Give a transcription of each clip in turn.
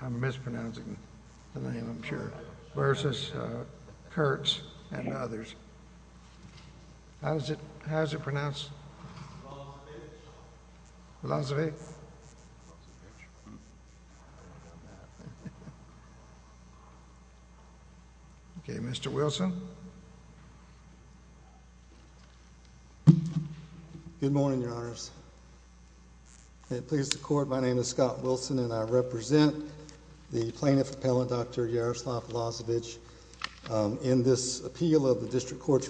I'm mispronouncing the name, I'm sure, versus Kurtz and others. How is it pronounced? Lozovyy. Okay, Mr. Wilson. Good morning, Your Honors. It pleases the Court, my name is Scott Wilson and I represent the Plaintiff Appellant Dr. Yaroslav Lozovyy in this appeal of the District Appellant.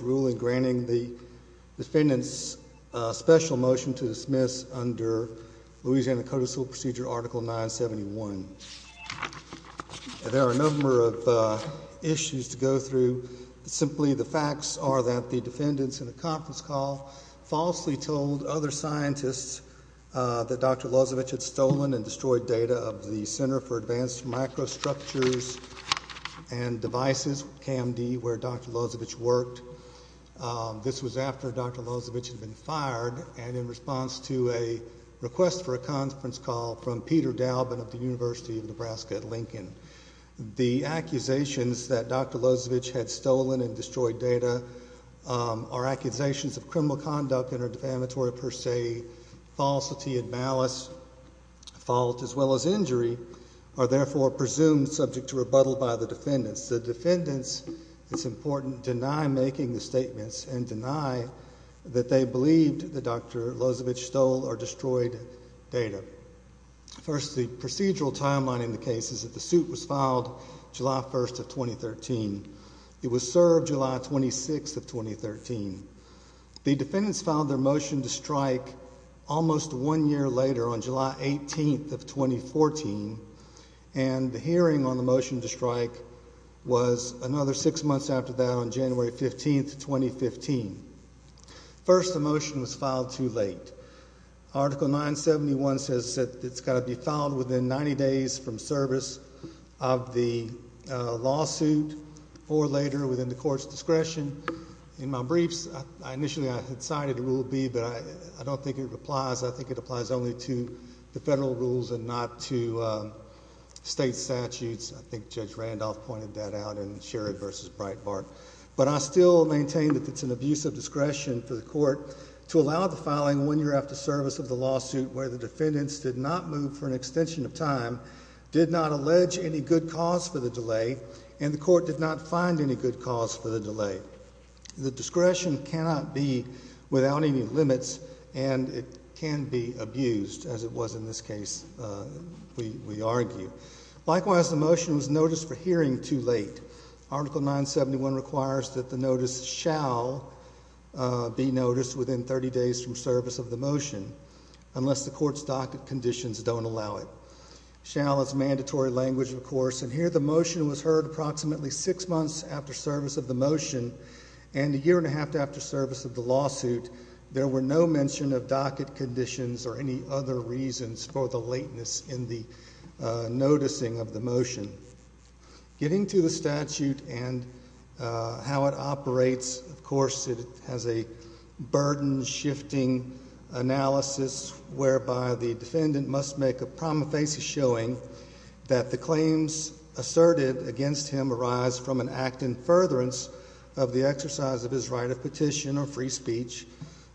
I have a special motion to dismiss under Louisiana Code of Civil Procedure, Article 971. There are a number of issues to go through. Simply, the facts are that the defendants in a conference call falsely told other scientists that Dr. Lozovyy had stolen and destroyed data of the Center for Advanced Microstructures and Devices, CAMD, where Dr. Lozovyy worked. This was after Dr. Lozovyy had been fired and in response to a request for a conference call from Peter Daubin of the University of Nebraska at Lincoln. The accusations that Dr. Lozovyy had stolen and destroyed data are accusations of criminal conduct and are defamatory per se, falsity and malice, fault as well as injury, are therefore presumed subject to rebuttal by the defendants. The defendants, it's important, deny making the statements and deny that they believed that Dr. Lozovyy stole or destroyed data. First, the procedural timeline in the case is that the suit was filed July 1st of 2013. It was served July 26th of 2013. The defendants filed their motion to strike almost one year later on July 18th of 2014 and the hearing on the motion to strike was another six months after that on January 15th of 2015. First, the motion was filed too late. Article 971 says that it's got to be filed within 90 days from service of the lawsuit or later within the court's discretion. In my briefs, initially I had cited Rule B, but I don't think it applies. I think it applies only to the federal rules and not to state statutes. I think Judge Randolph pointed that out in Sherrod v. Breitbart. But I still maintain that it's an abuse of discretion for the court to allow the filing one year after service of the lawsuit where the defendants did not move for an extension of time, did not allege any good cause for the delay, and the court did not find any good cause for the delay. The discretion cannot be without any limits and it can be abused, as it was in this case, we argue. Likewise, the motion was noticed for hearing too late. Article 971 requires that the notice shall be noticed within 30 days from service of the motion unless the court's docket conditions don't allow it. Shall is mandatory language, of course, and here the motion was heard approximately six months after service of the motion and a year and a half after service of the lawsuit. There were no mention of docket conditions or any other reasons for the lateness in the noticing of the motion. Getting to the statute and how it operates, of course, it has a burden-shifting analysis whereby the defendant must make a prima facie showing that the claims asserted against him arise from an act in furtherance of the exercise of his right of petition or free speech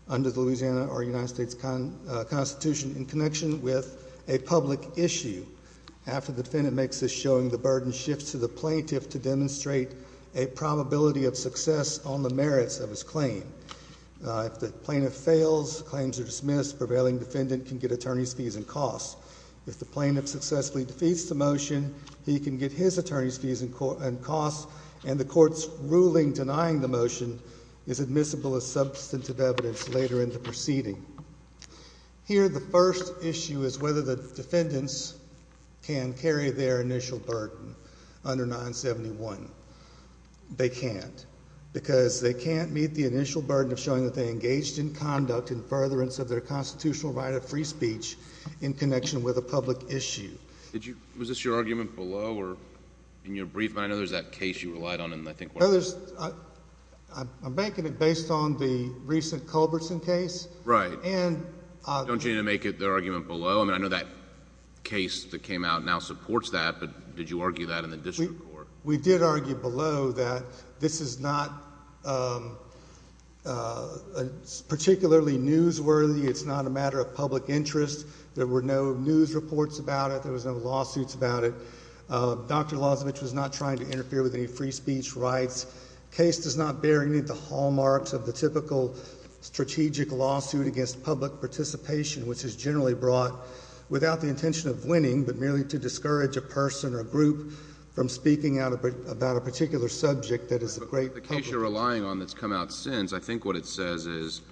under the Louisiana or United States Constitution in connection with a public issue. After the defendant makes this showing, the burden shifts to the plaintiff to demonstrate a probability of success on the merits of his claim. If the plaintiff fails, claims are dismissed, prevailing defendant can get attorney's fees and costs. If the plaintiff successfully defeats the motion, he can get his attorney's fees and costs and the court's ruling denying the motion is admissible as substantive evidence later in the proceeding. Here the first issue is whether the defendants can carry their initial burden under 971. They can't because they can't meet the initial burden of showing that they engaged in conduct in furtherance of their constitutional right of free speech in connection with a public issue. Was this your argument below or in your brief? I know there's that case you relied on and I think one of the others I'm making it based on the recent Culbertson case, right? And don't you need to make it their argument below? I mean, I know that case that came out now supports that, but did you argue that in the district court? We did argue below that this is not particularly newsworthy. It's not a matter of public interest. There were no news reports about it. There was no lawsuits about it. Dr. Lozavich was not trying to interfere with any free speech rights. Case does not bear any of the hallmarks of the typical strategic lawsuit against public participation, which is generally brought without the intention of winning, but merely to discourage a person or a group from speaking out about a particular subject that is a great public interest. But the case you're relying on that's come out since, I think what it says is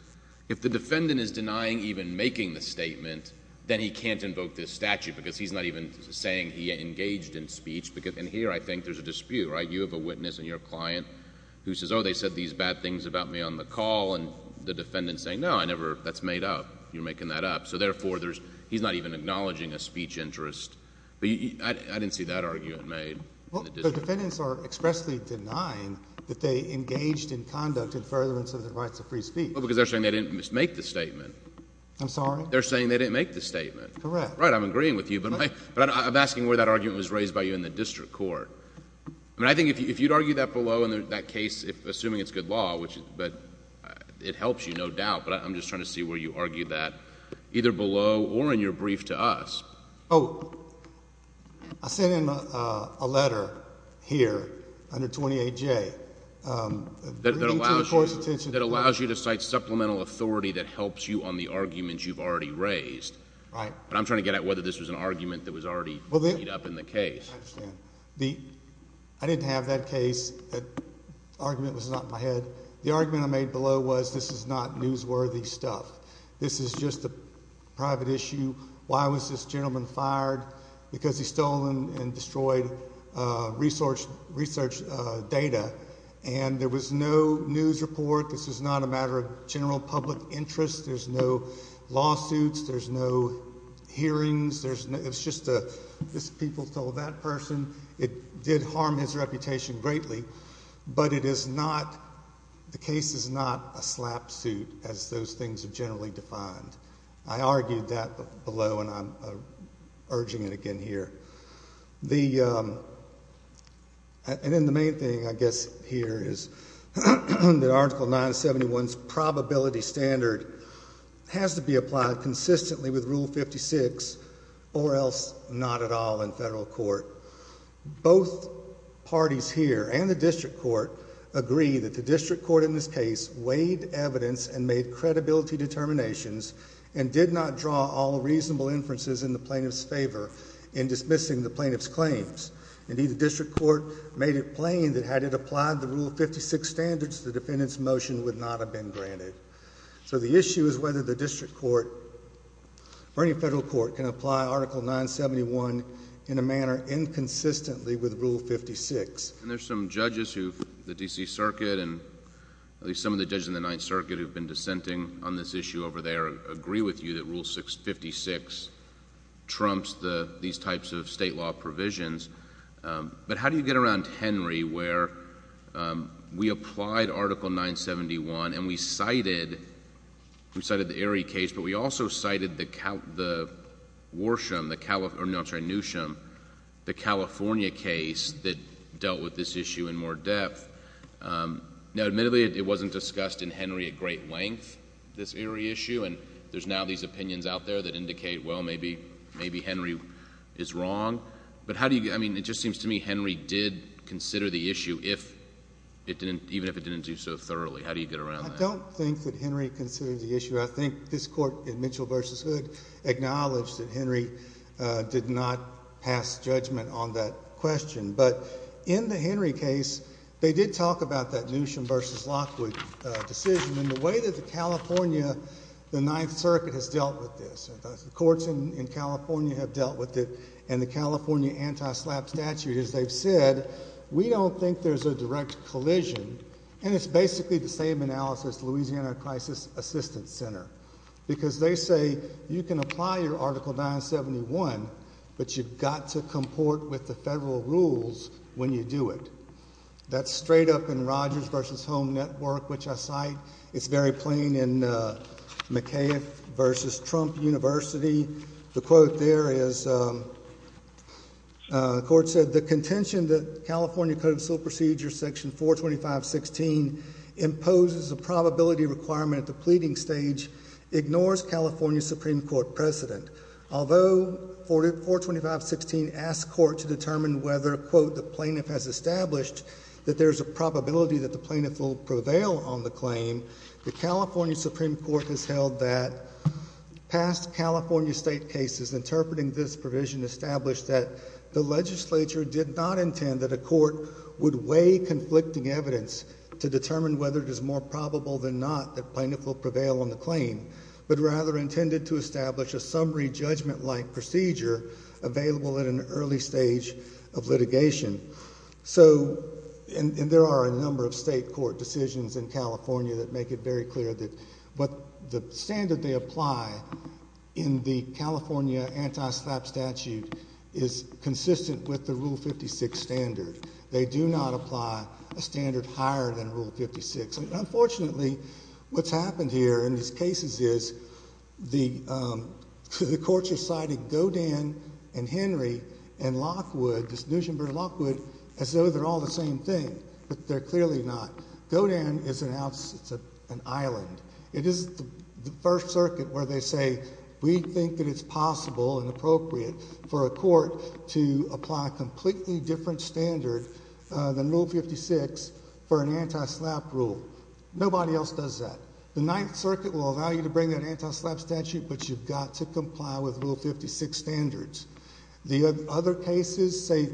if the defendant is denying even making the statement, then he can't invoke this statute because he's not even saying he engaged in speech. And here I think there's a dispute, right? You have a witness and your client who says, oh, they said these bad things about me on the call, and the defendant's saying, no, I never, that's made up. You're making that up. So therefore, he's not even acknowledging a speech interest. But I didn't see that argument made. Well, the defendants are expressly denying that they engaged in conduct in furtherance of the rights of free speech. Well, because they're saying they didn't make the statement. I'm sorry? They're saying they didn't make the statement. Correct. Right, I'm agreeing with you, but I'm asking where that argument was raised by you in the district court. I mean, I think if you'd argue that below in that case, assuming it's good law, but it helps you, no doubt, but I'm just trying to see where you argue that either below or in your brief to us. Oh, I sent him a letter here under 28J that allows you to cite supplemental authority that helps you on the arguments you've already raised. But I'm trying to get at whether this was an argument that was already made up in the case. I understand. I didn't have that case. That argument was not in my head. The argument I made below was this is not newsworthy stuff. This is just a private issue. Why was this gentleman fired? Because he stole and destroyed research data. And there was no news report. This is not a matter of general public interest. There's no lawsuits. There's no hearings. It's just people told that person. It did harm his reputation greatly. But it is not, the case is not a slap suit, as those things are generally defined. I argued that below and I'm urging it again here. And then the main thing, I guess, here is that Article 971's probability standard has to be applied consistently with Rule 56 or else not at all in federal court. Both parties here and the district court agree that the district court in this case weighed evidence and made credibility determinations and did not draw all reasonable inferences in the plaintiff's favor in dismissing the plaintiff's claims. Indeed, the district court made it plain that had it applied the Rule 56 standards, the defendant's motion would not have been granted. So the issue is whether the district court or any federal court can apply Article 971 in a manner inconsistently with Rule 56. And there's some judges who, the D.C. Circuit and at least some of the judges in the 9th Circuit, in some cases, trumps these types of state law provisions. But how do you get around Henry where we applied Article 971 and we cited the Erie case, but we also cited the Worsham, the California case that dealt with this issue in more depth. Now, admittedly, it wasn't discussed in Henry at great length, this Erie issue, and there's now these opinions out there that indicate, well, maybe, maybe Henry is wrong. But how do you, I mean, it just seems to me Henry did consider the issue if it didn't, even if it didn't do so thoroughly. How do you get around that? I don't think that Henry considered the issue. I think this court in Mitchell v. Hood acknowledged that Henry did not pass judgment on that question. But in the Henry case, they did talk about that Newsham v. Lockwood decision. And the way that the California, the 9th Circuit has dealt with this, the courts in California have dealt with it, and the California anti-SLAPP statute, as they've said, we don't think there's a direct collision. And it's basically the same analysis, Louisiana Crisis Assistance Center, because they say you can apply your Article 971, but you've got to comport with the federal rules when you do it. That's straight up in Rogers v. Home Network, which I cite. It's very plain in McCaif v. Trump University. The quote there is, the court said, the contention that California Code of Civil Procedures, Section 425.16, imposes a probability requirement at the pleading stage, ignores California Supreme Court precedent. Although 425.16 asks court to determine whether, quote, the plaintiff has established that there's a probability that the plaintiff will prevail on the claim, the California Supreme Court has held that past California state cases interpreting this provision established that the legislature did not intend that a court would weigh conflicting evidence to determine whether it is more probable than not that plaintiff will prevail on the claim, but rather intended to establish a summary judgment-like procedure available at an early stage of litigation. So, and there are a number of state court decisions in California that make it very clear that what the standard they apply in the California anti-SLAPP statute is consistent with the Rule 56 standard. They do not apply a standard higher than Rule 56. Unfortunately, what's happened here in these cases is the courts have cited Godin and Henry and Lockwood, Nuschenberg and Lockwood, as though they're all the same thing, but they're clearly not. Godin is an island. It is the First Circuit where they say, we think that it's possible and appropriate for a court to apply a completely different standard than Rule 56 for an anti-SLAPP rule. Nobody else does that. The Ninth Circuit will allow you to bring that anti-SLAPP statute, but you've got to comply with Rule 56 standards. The other cases, say,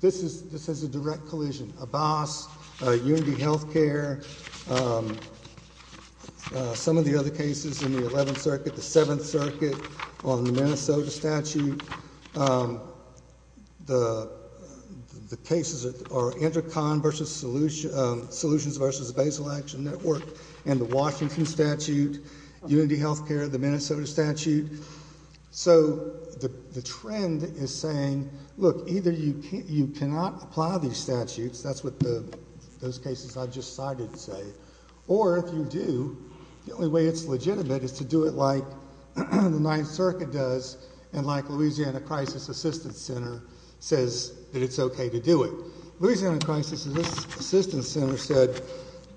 this is a direct collision. Abbas, UND Health Care, some of the other cases in the Eleventh Circuit, the Seventh Circuit on the Minnesota statute, the cases are Intercon Solutions versus the Basal Action Network and the Washington statute, UND Health Care, the Minnesota statute. So the trend is saying, look, either you cannot apply these statutes, that's what those cases I just cited say, or if you do, the only way it's legitimate is to do it like the Ninth Circuit does and like Louisiana Crisis Assistance Center says that it's okay to do it. Louisiana Crisis Assistance Center said,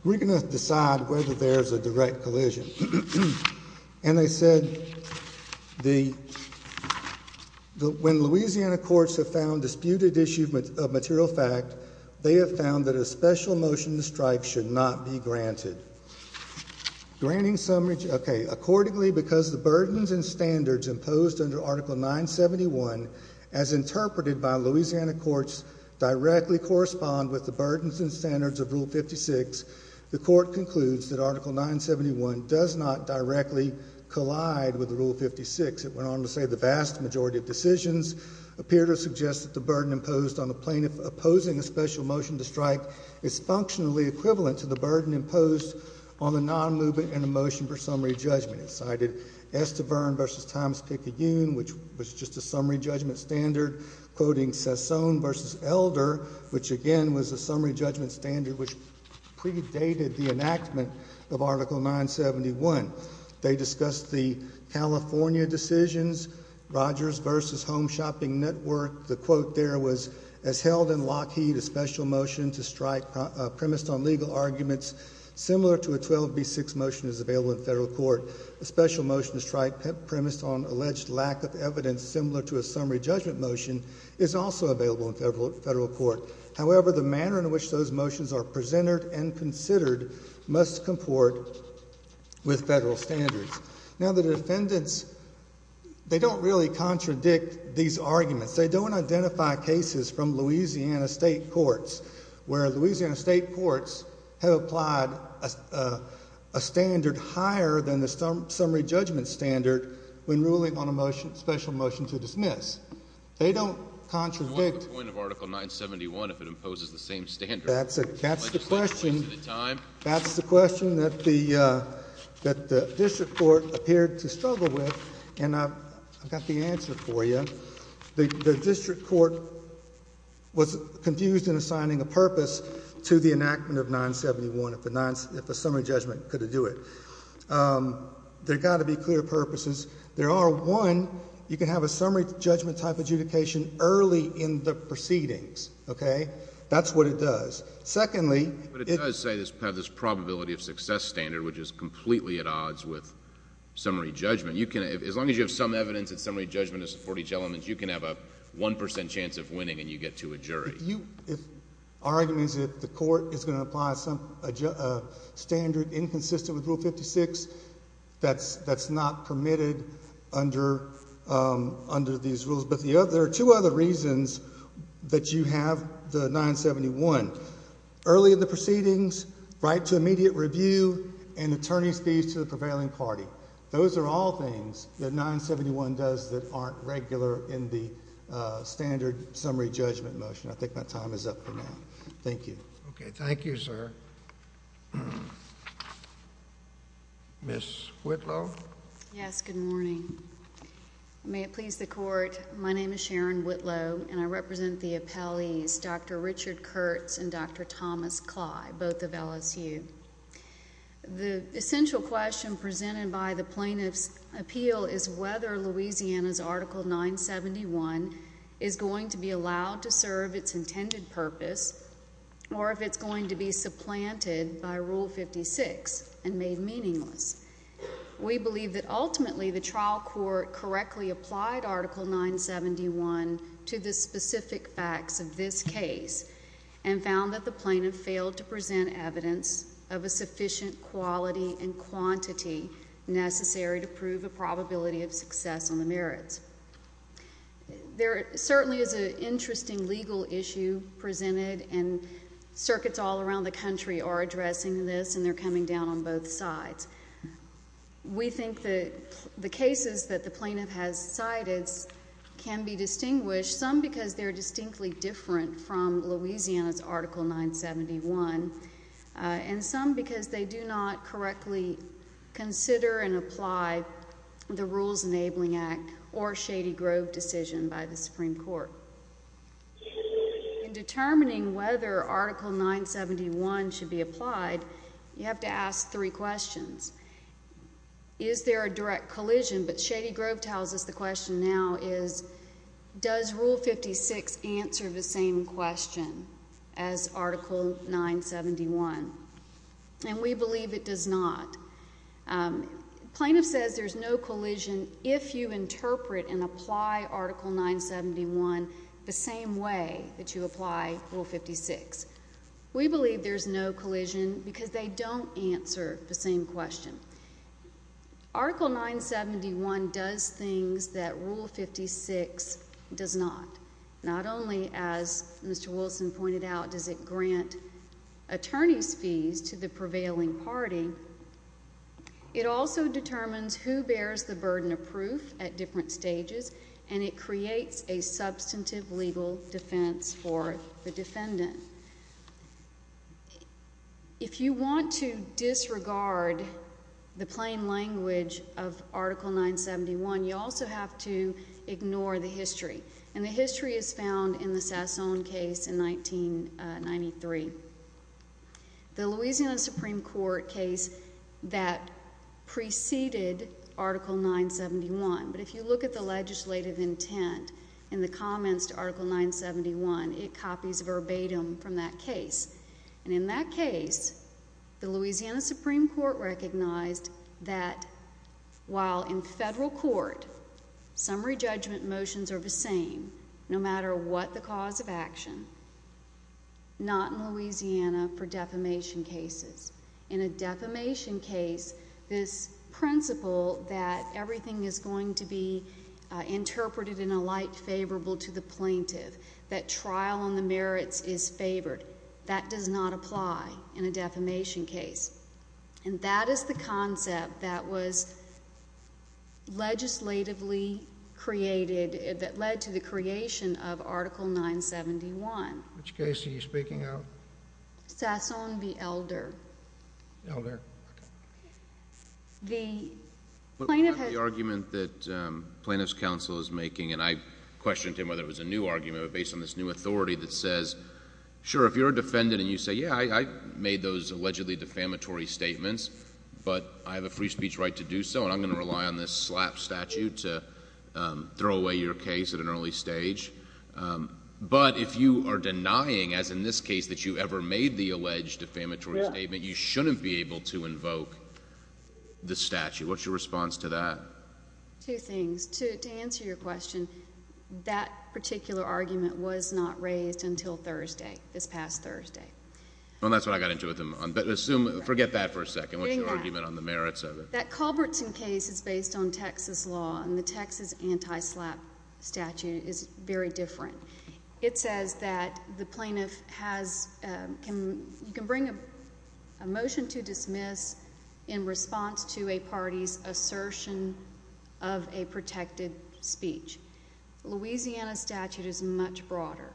we're going to decide whether there's a direct collision. And they said, when Louisiana courts have found disputed issue of material fact, they have found that a special motion to strike should not be granted. Granting some, okay, accordingly because the burdens and standards imposed under Article 971, as interpreted by Louisiana courts, directly correspond with the burdens and standards of Rule 56, the court concludes that Article 971 does not directly collide with the Rule 56. It went on to say, the vast majority of decisions appear to suggest that the burden imposed on the plaintiff opposing a special motion to strike is functionally equivalent to the burden imposed on the non-movement in a motion for summary judgment. It cited Estivern versus Thomas Picayune, which was just a summary judgment standard, quoting Sassone versus Elder, which again was a summary judgment standard which predated the enactment of Article 971. They discussed the California decisions, Rogers versus Home Shopping Network. The quote there was, as held in Lockheed, a special motion to strike premised on legal court. A special motion to strike premised on alleged lack of evidence similar to a summary judgment motion is also available in federal court. However, the manner in which those motions are presented and considered must comport with federal standards. Now, the defendants, they don't really contradict these arguments. They don't identify cases from Louisiana State Courts, where Louisiana State Courts have applied a standard higher than the summary judgment standard when ruling on a special motion to dismiss. They don't contradict... What's the point of Article 971 if it imposes the same standard? That's the question. Legislation points to the time. That's the question that the district court appeared to struggle with, and I've got the answer. The district court was confused in assigning a purpose to the enactment of 971 if a summary judgment could do it. There have got to be clear purposes. There are, one, you can have a summary judgment type of adjudication early in the proceedings, okay? That's what it does. Secondly... But it does say it has this probability of success standard, which is completely at odds with summary judgment. You can, as long as you have some evidence that summary judgment is for each element, you can have a 1% chance of winning, and you get to a jury. If our argument is that the court is going to apply a standard inconsistent with Rule 56, that's not permitted under these rules. But there are two other reasons that you have the 971. Early in the proceedings, right to immediate review, and attorney's fees to the court, regular in the standard summary judgment motion. I think my time is up for now. Thank you. Okay. Thank you, sir. Ms. Whitlow? Yes. Good morning. May it please the Court, my name is Sharon Whitlow, and I represent the appellees, Dr. Richard Kurtz and Dr. Thomas Clyde, both of LSU. The essential question presented by the plaintiff's appeal is whether Louisiana's Article 971 is going to be allowed to serve its intended purpose or if it's going to be supplanted by Rule 56 and made meaningless. We believe that ultimately the trial court correctly applied Article 971 to the specific facts of this case and found that the plaintiff failed to present evidence of a sufficient quality and quantity necessary to prove a probability of success on the merits. There certainly is an interesting legal issue presented and circuits all around the country are addressing this and they're coming down on both sides. We think that the cases that the plaintiff has cited can be distinguished, some because they're distinctly different from Louisiana's Article 971, and some because they do not correctly consider and apply the Rules Enabling Act or Shady Grove decision by the Supreme Court. In determining whether Article 971 should be applied, you have to ask three questions. Is there a direct collision? But Shady Grove tells us the question now is, does Rule 56 answer the same question as Article 971? And we believe it does not. The plaintiff says there's no collision if you interpret and apply Article 971 the same way that you apply Rule 56. We believe there's no collision because they don't answer the same question. Article 971 does things that Rule 56 does not. Not only, as Mr. Wilson pointed out, does it grant attorney's fees to the prevailing party, it also determines who bears the burden of proof at different stages and it creates a substantive legal defense for the defendant. If you want to disregard the plain language of Article 971, you also have to ignore the history, and the history is found in the Sassoon case in 1993. The Louisiana Supreme Court case that preceded Article 971, but if you look at the legislative intent in the comments to Article 971, it copies verbatim from that case. And in that case, the Louisiana Supreme Court recognized that while in federal court, summary judgment motions are the same, no matter what the cause of action, not in Louisiana for defamation cases. In a defamation case, this principle that everything is going to be interpreted in a light favorable to the plaintiff, that trial on the merits is favored, that does not apply in a defamation case. And that is the concept that was legislatively created, that led to the creation of Article 971. Which case are you speaking of? Sassoon v. Elder. Elder. The plaintiff has The argument that plaintiff's counsel is making, and I questioned him whether it was a new argument based on this new authority that says, sure, if you're a defendant and you say, yeah, I made those allegedly defamatory statements, but I have a free speech right to do so, and I'm going to rely on this slap statute to throw away your case at an early stage. But if you are denying, as in this case, that you ever made the alleged defamatory statement, you shouldn't be able to invoke the statute. What's your response to that? Two things. To answer your question, that particular argument was not raised until Thursday, this past Thursday. And that's what I got into with him. Forget that for a second. What's your argument on the merits of it? That Culbertson case is based on Texas law, and the Texas anti-slap statute is very different. It says that the plaintiff has, you can bring a motion to dismiss in response to a party's assertion of a protected speech. Louisiana statute is much broader.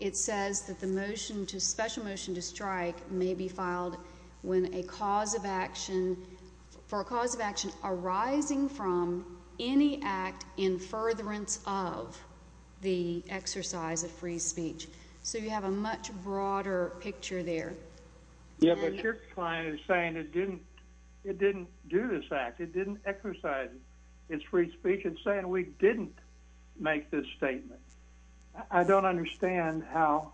It says that the motion to, special motion to strike may be filed when a cause of action, for a cause of action arising from any act in furtherance of the exercise of free speech. So you have a much broader picture there. Yeah, but your client is saying it didn't do this act. It didn't exercise its free speech. It's saying we didn't make this statement. I don't understand how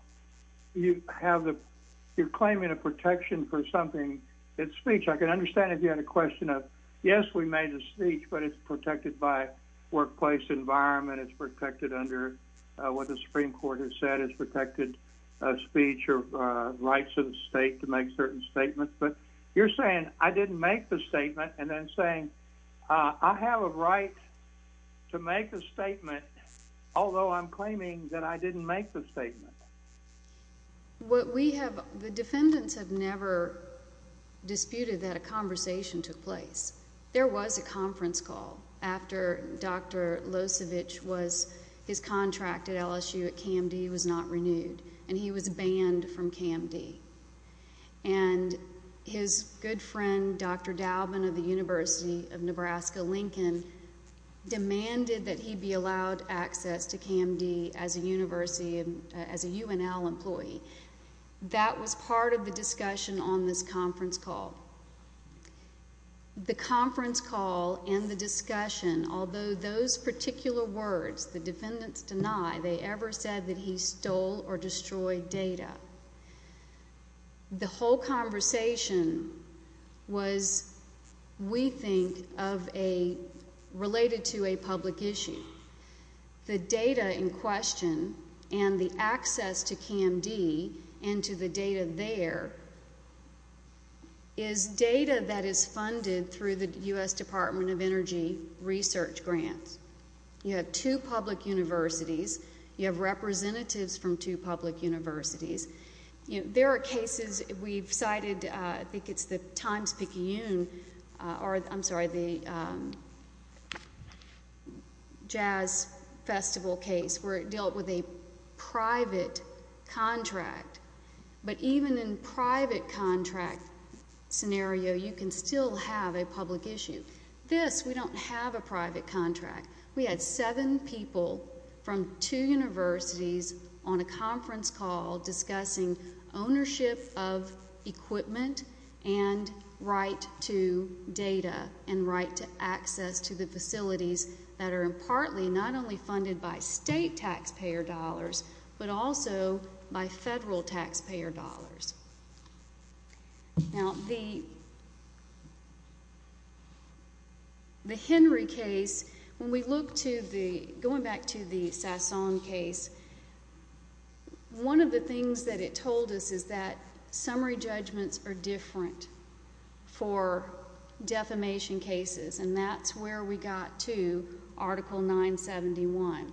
you have the, you're saying, yes, we made the speech, but it's protected by workplace environment. It's protected under what the Supreme Court has said. It's protected speech or rights of the state to make certain statements. But you're saying, I didn't make the statement, and then saying, I have a right to make a statement, although I'm claiming that I didn't make the statement. What we have, the defendants have never disputed that a conversation took place. There was a conference call after Dr. Losevich was, his contract at LSU at CAMD was not renewed, and he was banned from CAMD. And his good friend, Dr. Dauben of the University of Nebraska-Lincoln, demanded that he be allowed access to CAMD as a university, as a UNL employee. That was part of the discussion on this conference call. The conference call and the discussion, although those particular words, the defendants deny they ever said that he stole or destroyed data, the whole conversation was, we think, of a, I don't want to say it was a political related to a public issue. The data in question and the access to CAMD and to the data there is data that is funded through the U.S. Department of Energy research grants. You have two public universities. You have representatives from two public universities. There are cases, we've cited, I think it's the Times-Picayune, or I'm sorry, the Jazz Festival case where it dealt with a private contract. But even in private contract scenario, you can still have a public issue. This, we don't have a private contract. We had seven people from two universities on a conference call discussing ownership of equipment and right to data and right to access to the facilities that are partly not only funded by state taxpayer dollars, but also by federal taxpayer dollars. Now, the Henry case, when we look to the, going back to the Hasson case, one of the things that it told us is that summary judgments are different for defamation cases, and that's where we got to Article 971.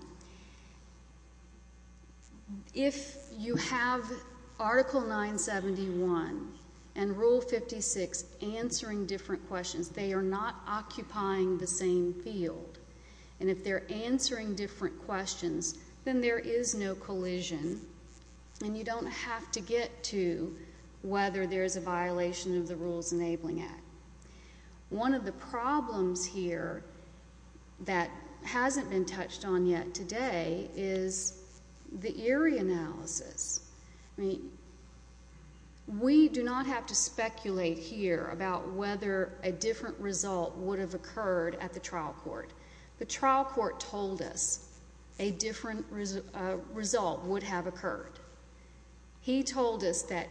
If you have Article 971 and Rule 56 answering different questions, they are not occupying the same field. And if they're answering different questions, then there is no collision, and you don't have to get to whether there's a violation of the Rules Enabling Act. One of the problems here that hasn't been touched on yet today is the eerie analysis. I mean, we do not have to speculate here about whether a different result would have occurred at the trial court. The trial court told us a different result would have occurred. He told us that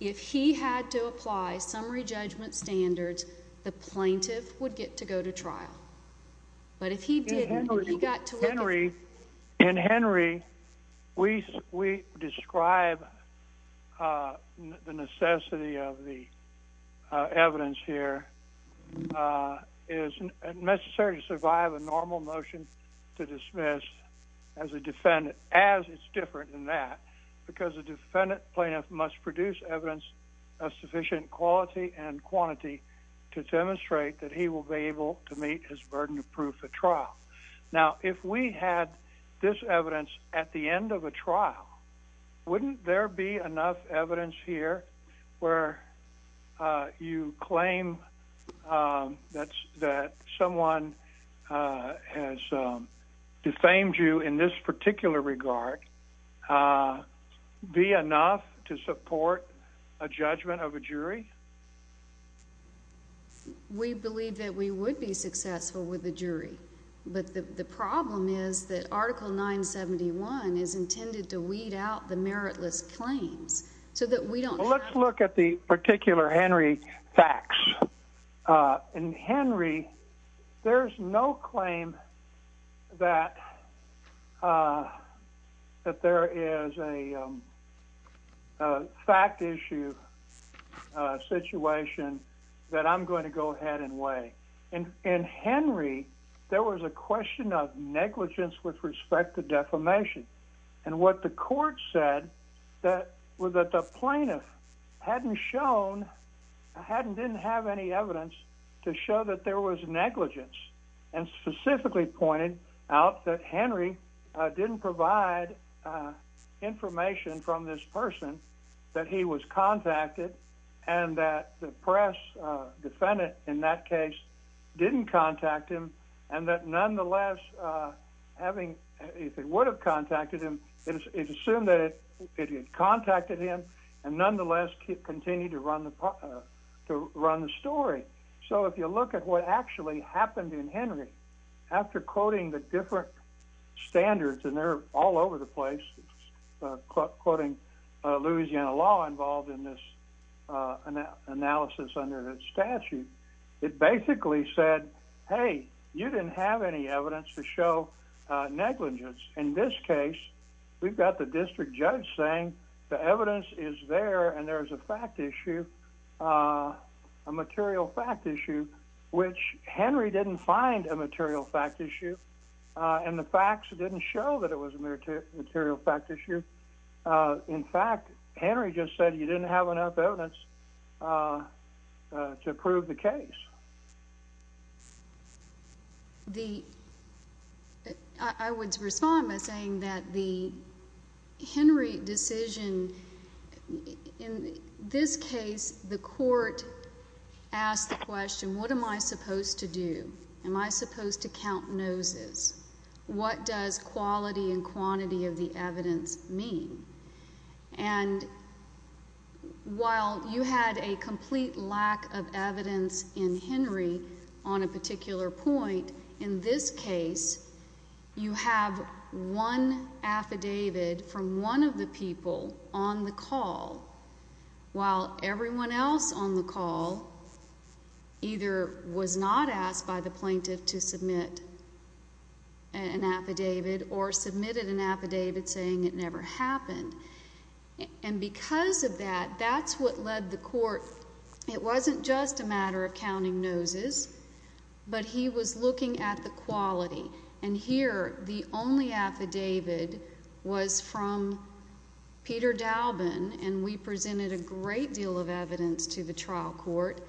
if he had to apply summary judgment standards, the plaintiff would get to go to trial. But if he didn't, he got to look at the... In Henry, we describe the necessity of the evidence here as necessary to survive the normal motion to dismiss as a defendant, as it's different than that, because a defendant plaintiff must produce evidence of sufficient quality and quantity to demonstrate that he will be able to meet his burden of proof at trial. Now, if we had this evidence at the end of a trial, wouldn't there be enough evidence here where you claim that someone, a defendant has defamed you in this particular regard, be enough to support a judgment of a jury? We believe that we would be successful with a jury, but the problem is that Article 971 is intended to weed out the meritless claims so that we don't... Let's look at the particular Henry facts. In Henry, there's no claim that there is a fact issue situation that I'm going to go ahead and weigh. In Henry, there was a question of negligence with respect to defamation, and what the court said was that the plaintiff hadn't shown, didn't have any evidence to show that there was negligence, and specifically pointed out that Henry didn't provide information from this person that he was contacted, and that the press defendant in that case didn't contact him, and that nonetheless, if it would have contacted him, it assumed that it had contacted him, and nonetheless, continued to run the story. So, if you look at what actually happened in Henry, after quoting the different standards, and they're all over the place, quoting Louisiana law involved in this analysis under the statute, it basically said, hey, you didn't have any evidence to show negligence. In this case, we've got the district judge saying the evidence is there, and there's a fact issue, a material fact issue, which Henry didn't find a material fact issue, and the facts didn't show that it was a material fact issue. In fact, Henry just said he didn't have enough evidence to prove the case. I would respond by saying that the Henry decision, in this case, the court asked the question, what am I supposed to do? Am I supposed to count noses? What does quality and quantity of the evidence mean? And while you had a complete lack of evidence in Henry's case, and Henry on a particular point, in this case, you have one affidavit from one of the people on the call, while everyone else on the call either was not asked by the plaintiff to submit an affidavit, or submitted an affidavit saying it never happened. And because of that, that's what led the court, it wasn't just a matter of counting noses, but he was looking at the quality. And here, the only affidavit was from Peter Dalben, and we presented a great deal of evidence to the trial court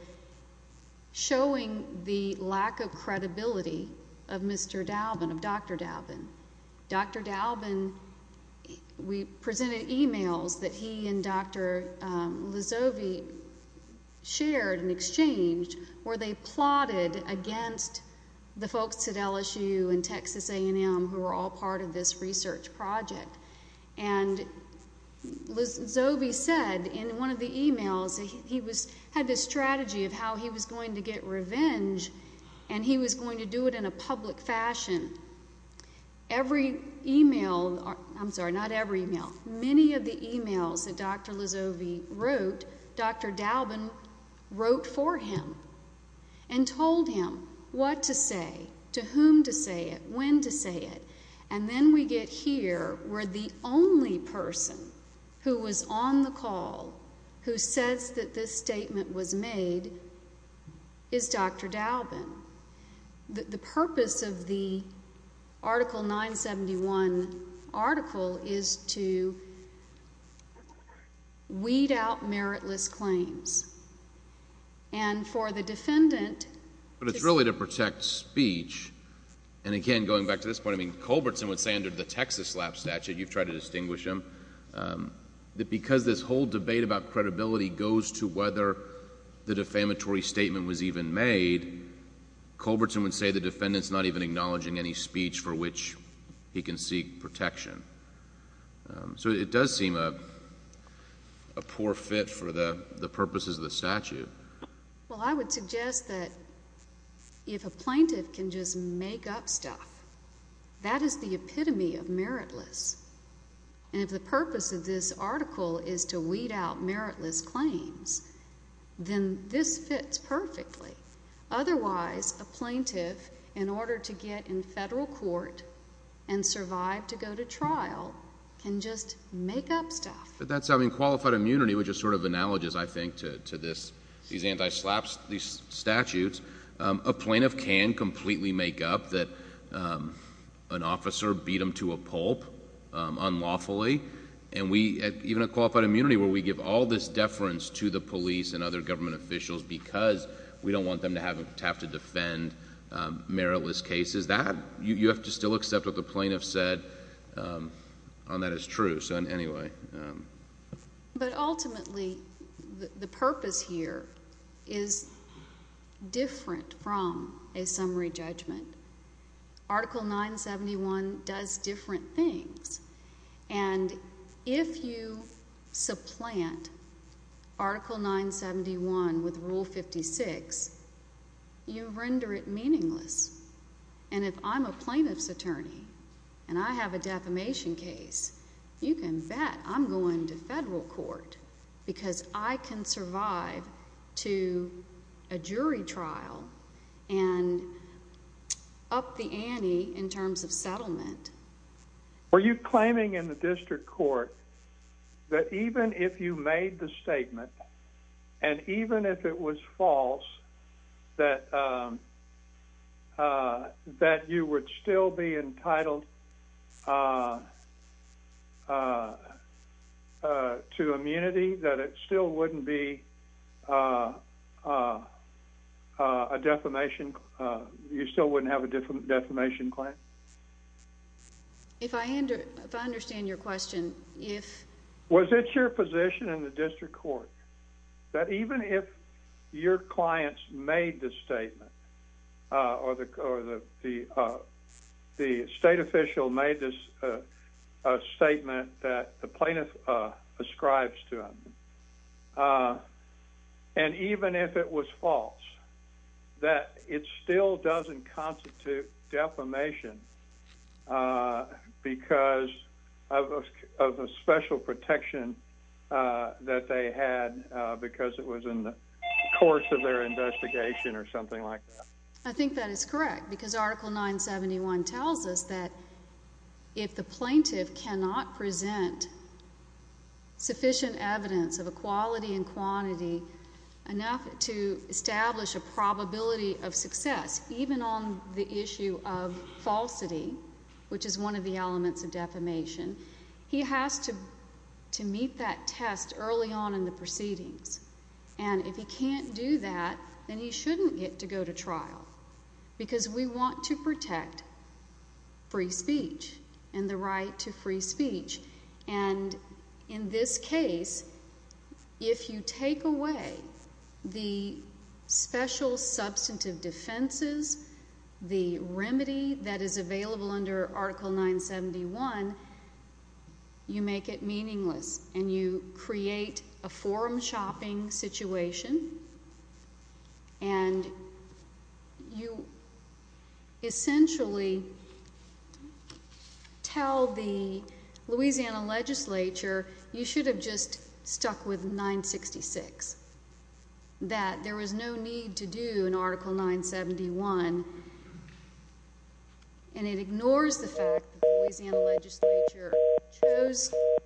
showing the lack of credibility of Mr. Dalben, of the people on the call. So, I'm going to go back to the point that Dr. Lizovi shared in exchange, where they plotted against the folks at LSU and Texas A&M who were all part of this research project. And Lizovi said in one of the emails, he had this strategy of how he was going to get revenge, and he was going to do it in a public fashion. Every email, I'm sorry, not every email, many of the emails that Dr. Lizovi wrote, Dr. Dalben wrote for him and told him what to say, to whom to say it, when to say it. And then we get here, where the only person who was on the call who says that this statement was made is Dr. Dalben. The purpose of the Article 971 article is to weed out meritless claims. And for the defendant to— But it's really to protect speech. And again, going back to this point, I mean, Culbertson would say under the Texas lab statute, you've tried to distinguish him, that because this whole debate about credibility goes to whether the defamatory statement was even made, Culbertson would say the defendant's not even acknowledging any speech for which he can seek protection. So it does seem a poor fit for the purposes of the statute. Well, I would suggest that if a plaintiff can just make up stuff, that is the epitome of meritless. And if the purpose of this article is to weed out meritless claims, then this fits perfectly. Otherwise, a plaintiff, in order to get in federal court and survive to go to trial, can just make up stuff. But that's having qualified immunity, which is sort of analogous, I think, to this, these anti-SLAPS, these statutes. A plaintiff can completely make up that an officer beat him to a pulp, unlawfully. And even a qualified immunity where we give all this deference to the police and other government officials because we don't want them to have to defend meritless cases, that, you have to still accept what the plaintiff said on that as true. But ultimately, the purpose here is different from a summary judgment. Article 971 does different things. And if you supplant Article 971 with Rule 56, you render it meaningless. And if I'm a plaintiff's attorney and I have a defamation case, you can bet I'm going to federal court because I can survive to a jury trial and up the ante in terms of settlement Were you claiming in the district court that even if you made the statement, and even if it was false, that you would still be entitled to immunity, that it still wouldn't be a defamation, you still wouldn't have a defamation claim? If I understand your question, if... Was it your position in the district court that even if your clients made the statement, or the state official made a statement that the plaintiff ascribes to him, and even if it was false, that it still doesn't constitute defamation because of a special protection that they had because it was in the course of their investigation or something like that? I think that is correct, because Article 971 tells us that if the plaintiff cannot present sufficient evidence of a quality and quantity enough to establish a probability of success, even on the issue of falsity, which is one of the elements of defamation, he has to meet that test early on in the proceedings. And if he can't do that, then he shouldn't get to go to trial, because we want to protect free speech and the right to free speech. And in this case, if you take away the special substantive defenses, the remedy that is available under Article 971, you make it meaningless, and you create a forum-shopping situation, and you essentially tell the Louisiana Legislature that the plaintiff is guilty of defamation and that he should be punished. And if you tell the Louisiana Legislature you should have just stuck with 966, that there was no need to do an Article 971, and it ignores the fact that the Louisiana Legislature chose to do it.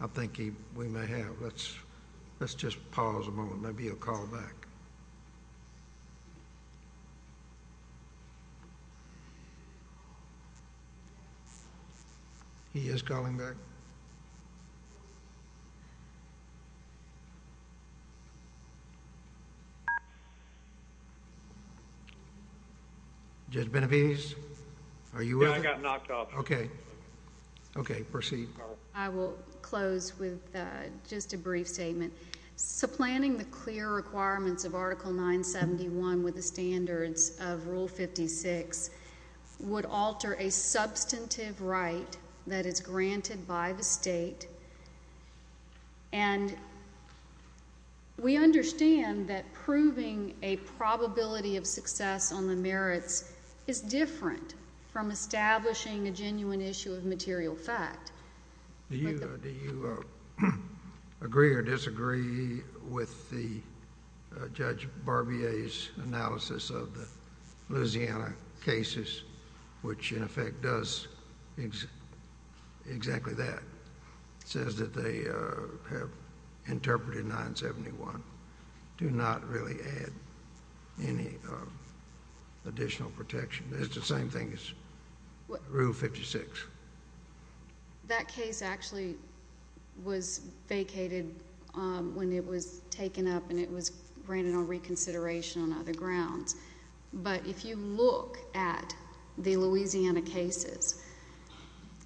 I think we may have. Let's just pause a moment. There may be a call back. He is calling back. Judge Benavides, are you with us? Yeah, I got knocked off. Okay. Okay, proceed. I will close with just a brief statement. Supplanting the clear requirements of Article 971 with the standards of Rule 56 would alter a substantive right that is granted by the state, and we understand that proving a probability of success on the merits is different from establishing a genuine issue of material fact. Do you agree or disagree with Judge Barbier's analysis of the Louisiana cases, which, in effect, does exactly that, says that they have interpreted 971, do not really add any additional protection? Is it the same thing as Rule 56? That case actually was vacated when it was taken up and it was granted on reconsideration on other grounds. But if you look at the Louisiana cases,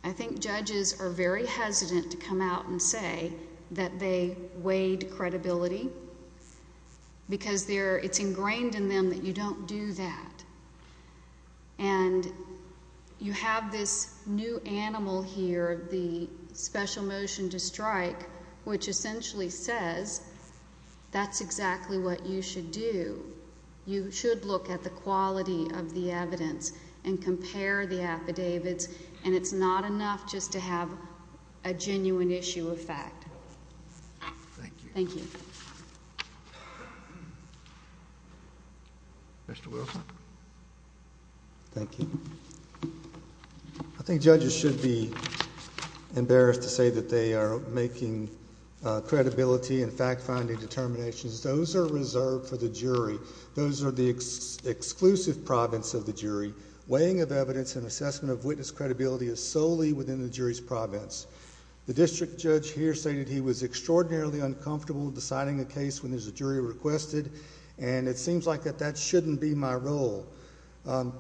I think judges are very hesitant to come out and say that they weighed credibility because it's ingrained in them that you don't do that. And you have this new animal here, the special motion to strike, which essentially says that's exactly what you should do. You should look at the quality of the evidence and compare the affidavits, and it's not enough just to have a genuine issue of fact. Thank you. Thank you. Mr. Wilson. Thank you. I think judges should be embarrassed to say that they are making credibility and fact-finding determinations. Those are reserved for the jury. Those are the exclusive province of the jury. Weighing of evidence and assessment of witness credibility is solely within the jury's province. The district judge here stated he was extraordinarily uncomfortable deciding a case when there's a jury requested, and it seems like that that shouldn't be my role.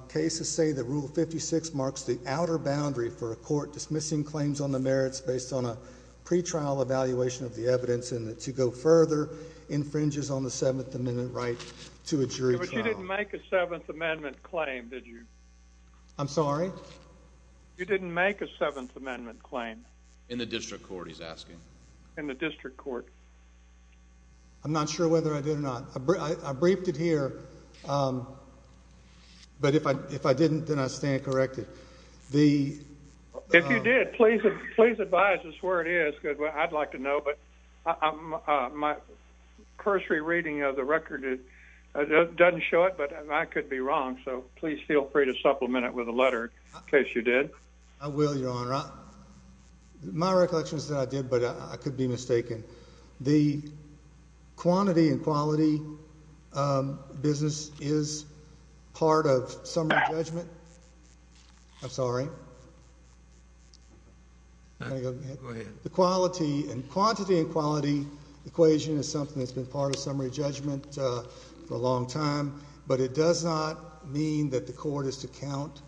Cases say that Rule 56 marks the outer boundary for a court dismissing claims on the merits based on a pretrial evaluation of the evidence and, to go further, infringes on the Seventh Amendment right to a jury trial. But you didn't make a Seventh Amendment claim, did you? I'm sorry? You didn't make a Seventh Amendment claim? In the district court, he's asking. In the district court. I'm not sure whether I did or not. I briefed it here, but if I didn't, then I stand corrected. If you did, please advise us where it is, because I'd like to know, but my cursory reading of the record doesn't show it, but I could be wrong, so please feel free to supplement it with a letter in case you did. I will, Your Honor. My recollection is that I did, but I could be mistaken. The quantity and quality business is part of summary judgment. I'm sorry? Go ahead. The quantity and quality equation is something that's been part of summary judgment for a long time, but it does not mean that the court is to count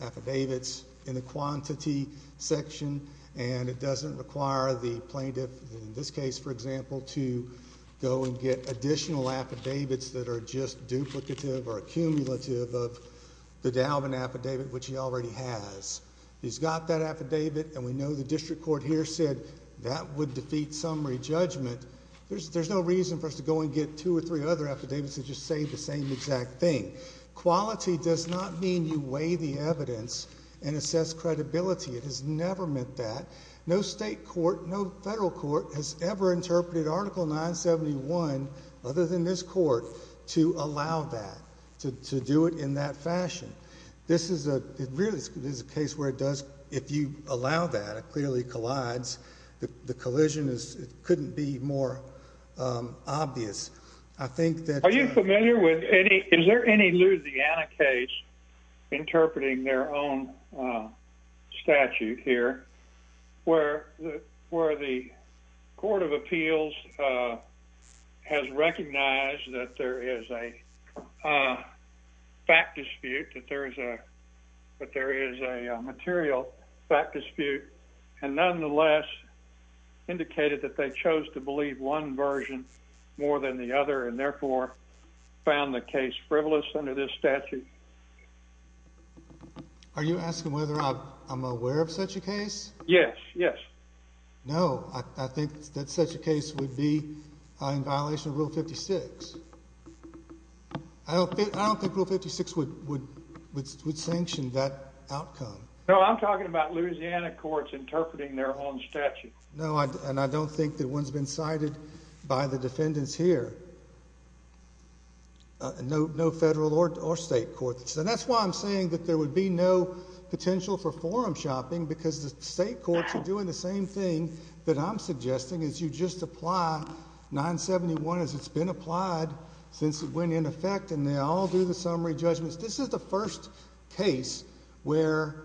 affidavits in the quantity section, and it doesn't require the plaintiff, in this case, for example, to go and get additional affidavits that are just duplicative or accumulative of the Dalvin affidavit, which he already has. He's got that affidavit, and we know the district court here said that would defeat summary judgment. There's no reason for us to go and get two or three other affidavits that just say the same exact thing. Quality does not mean you weigh the evidence and assess credibility. It has never meant that. No state court, no federal court, has ever interpreted Article 971, other than this court, to allow that, to do it in that fashion. This is a case where it does, if you allow that, it clearly collides. The collision couldn't be more obvious. Are you familiar with any, is there any Louisiana case interpreting their own statute here, where the court of appeals has recognized that there is a fact dispute that there is a material fact dispute, and nonetheless indicated that they chose to believe one version more than the other, and therefore found the case frivolous under this statute? Are you asking whether I'm aware of such a case? Yes, yes. No, I think that such a case would be in violation of Rule 56. I don't think Rule 56 would sanction that outcome. No, I'm talking about Louisiana courts interpreting their own statute. No, and I don't think that one's been cited by the defendants here. No federal or state courts. And that's why I'm saying that there would be no potential for forum shopping, because the state courts are doing the same thing that I'm suggesting, is you just apply 971 as it's been applied since it went into effect, and they all do the summary judgments. This is the first case where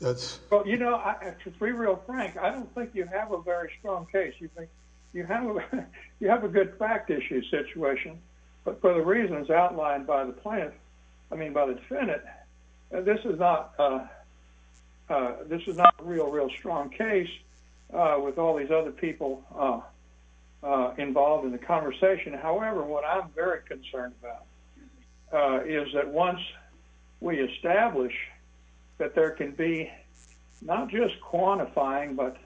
that's... Well, you know, to be real frank, I don't think you have a very strong case. You think you have a good fact issue situation, but for the reasons outlined by the plaintiff, I mean by the defendant, this is not a real, real strong case. With all these other people involved in the conversation, however, what I'm very concerned about is that once we establish that there can be not just quantifying, but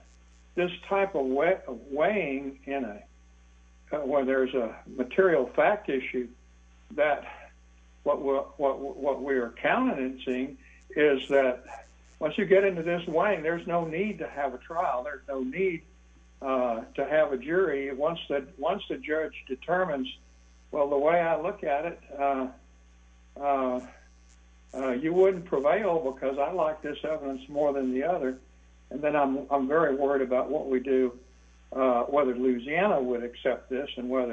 this type of weighing in a... When there's a material fact issue, that what we're counting and seeing is that once you get into this weighing, there's no need to have a trial. There's no need to have a jury. Once the judge determines, well, the way I look at it, you wouldn't prevail because I like this evidence more than the other. And then I'm very worried about what we do, whether Louisiana would accept this and what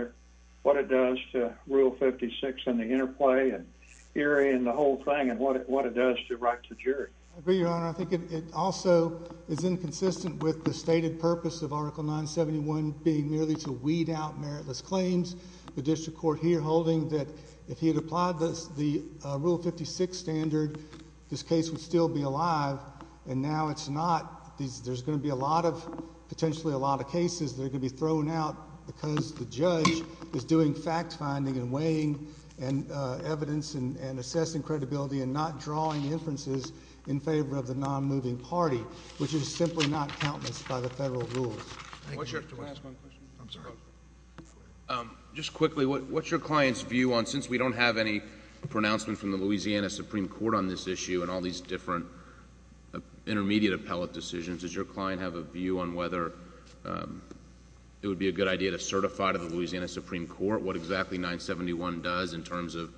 it does to Rule 56 and the interplay and the whole thing and what it does to the jury. I agree, Your Honor. I think it also is inconsistent with the stated purpose of Article 971 being merely to weed out meritless claims. The district court here holding that if he had applied the Rule 56 standard, this case would still be alive, and now it's not. There's going to be a lot of... Potentially a lot of cases that are going to be thrown out because the judge is doing fact finding and weighing evidence and assessing credibility and not drawing inferences in favor of the non-moving party, which is simply not countenance by the federal rules. Can I ask one question? I'm sorry. Just quickly, what's your client's view on... Since we don't have any pronouncement from the Louisiana Supreme Court on this issue and all these different intermediate appellate decisions, does your client have a view on whether it would be a good idea to certify to the Louisiana Supreme Court what exactly 971 does in terms of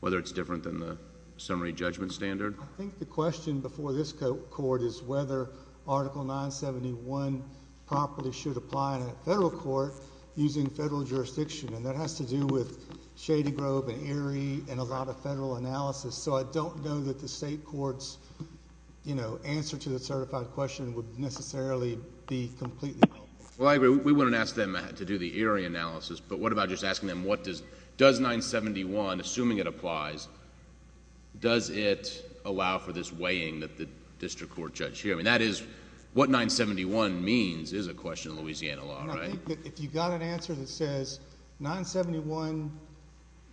whether it's different than the summary judgment standard? I think the question before this court is whether Article 971 properly should apply in a federal court using federal jurisdiction, and that has to do with Shady Grove and Erie and a lot of federal analysis. I don't know that the state court's answer to the certified question would necessarily be completely wrong. Well, I agree. We wouldn't ask them to do the Erie analysis, but what about just asking them does 971, assuming it applies, does it allow for this weighing that the district court judge here... I mean, that is what 971 means is a question of Louisiana law, right? I think that if you've got an answer that says 971,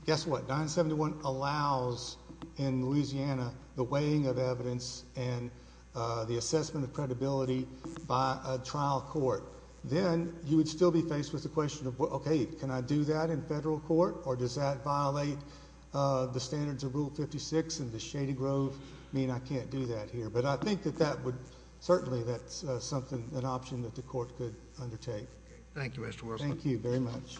guess what? 971 allows in Louisiana the weighing of evidence and the assessment of credibility by a trial court. Then you would still be faced with the question of, okay, can I do that in federal court, or does that violate the standards of Rule 56 and the Shady Grove? I mean, I can't do that here, but I think that that would... certainly that's an option that the court could undertake. Thank you, Mr. Worsley. Thank you very much.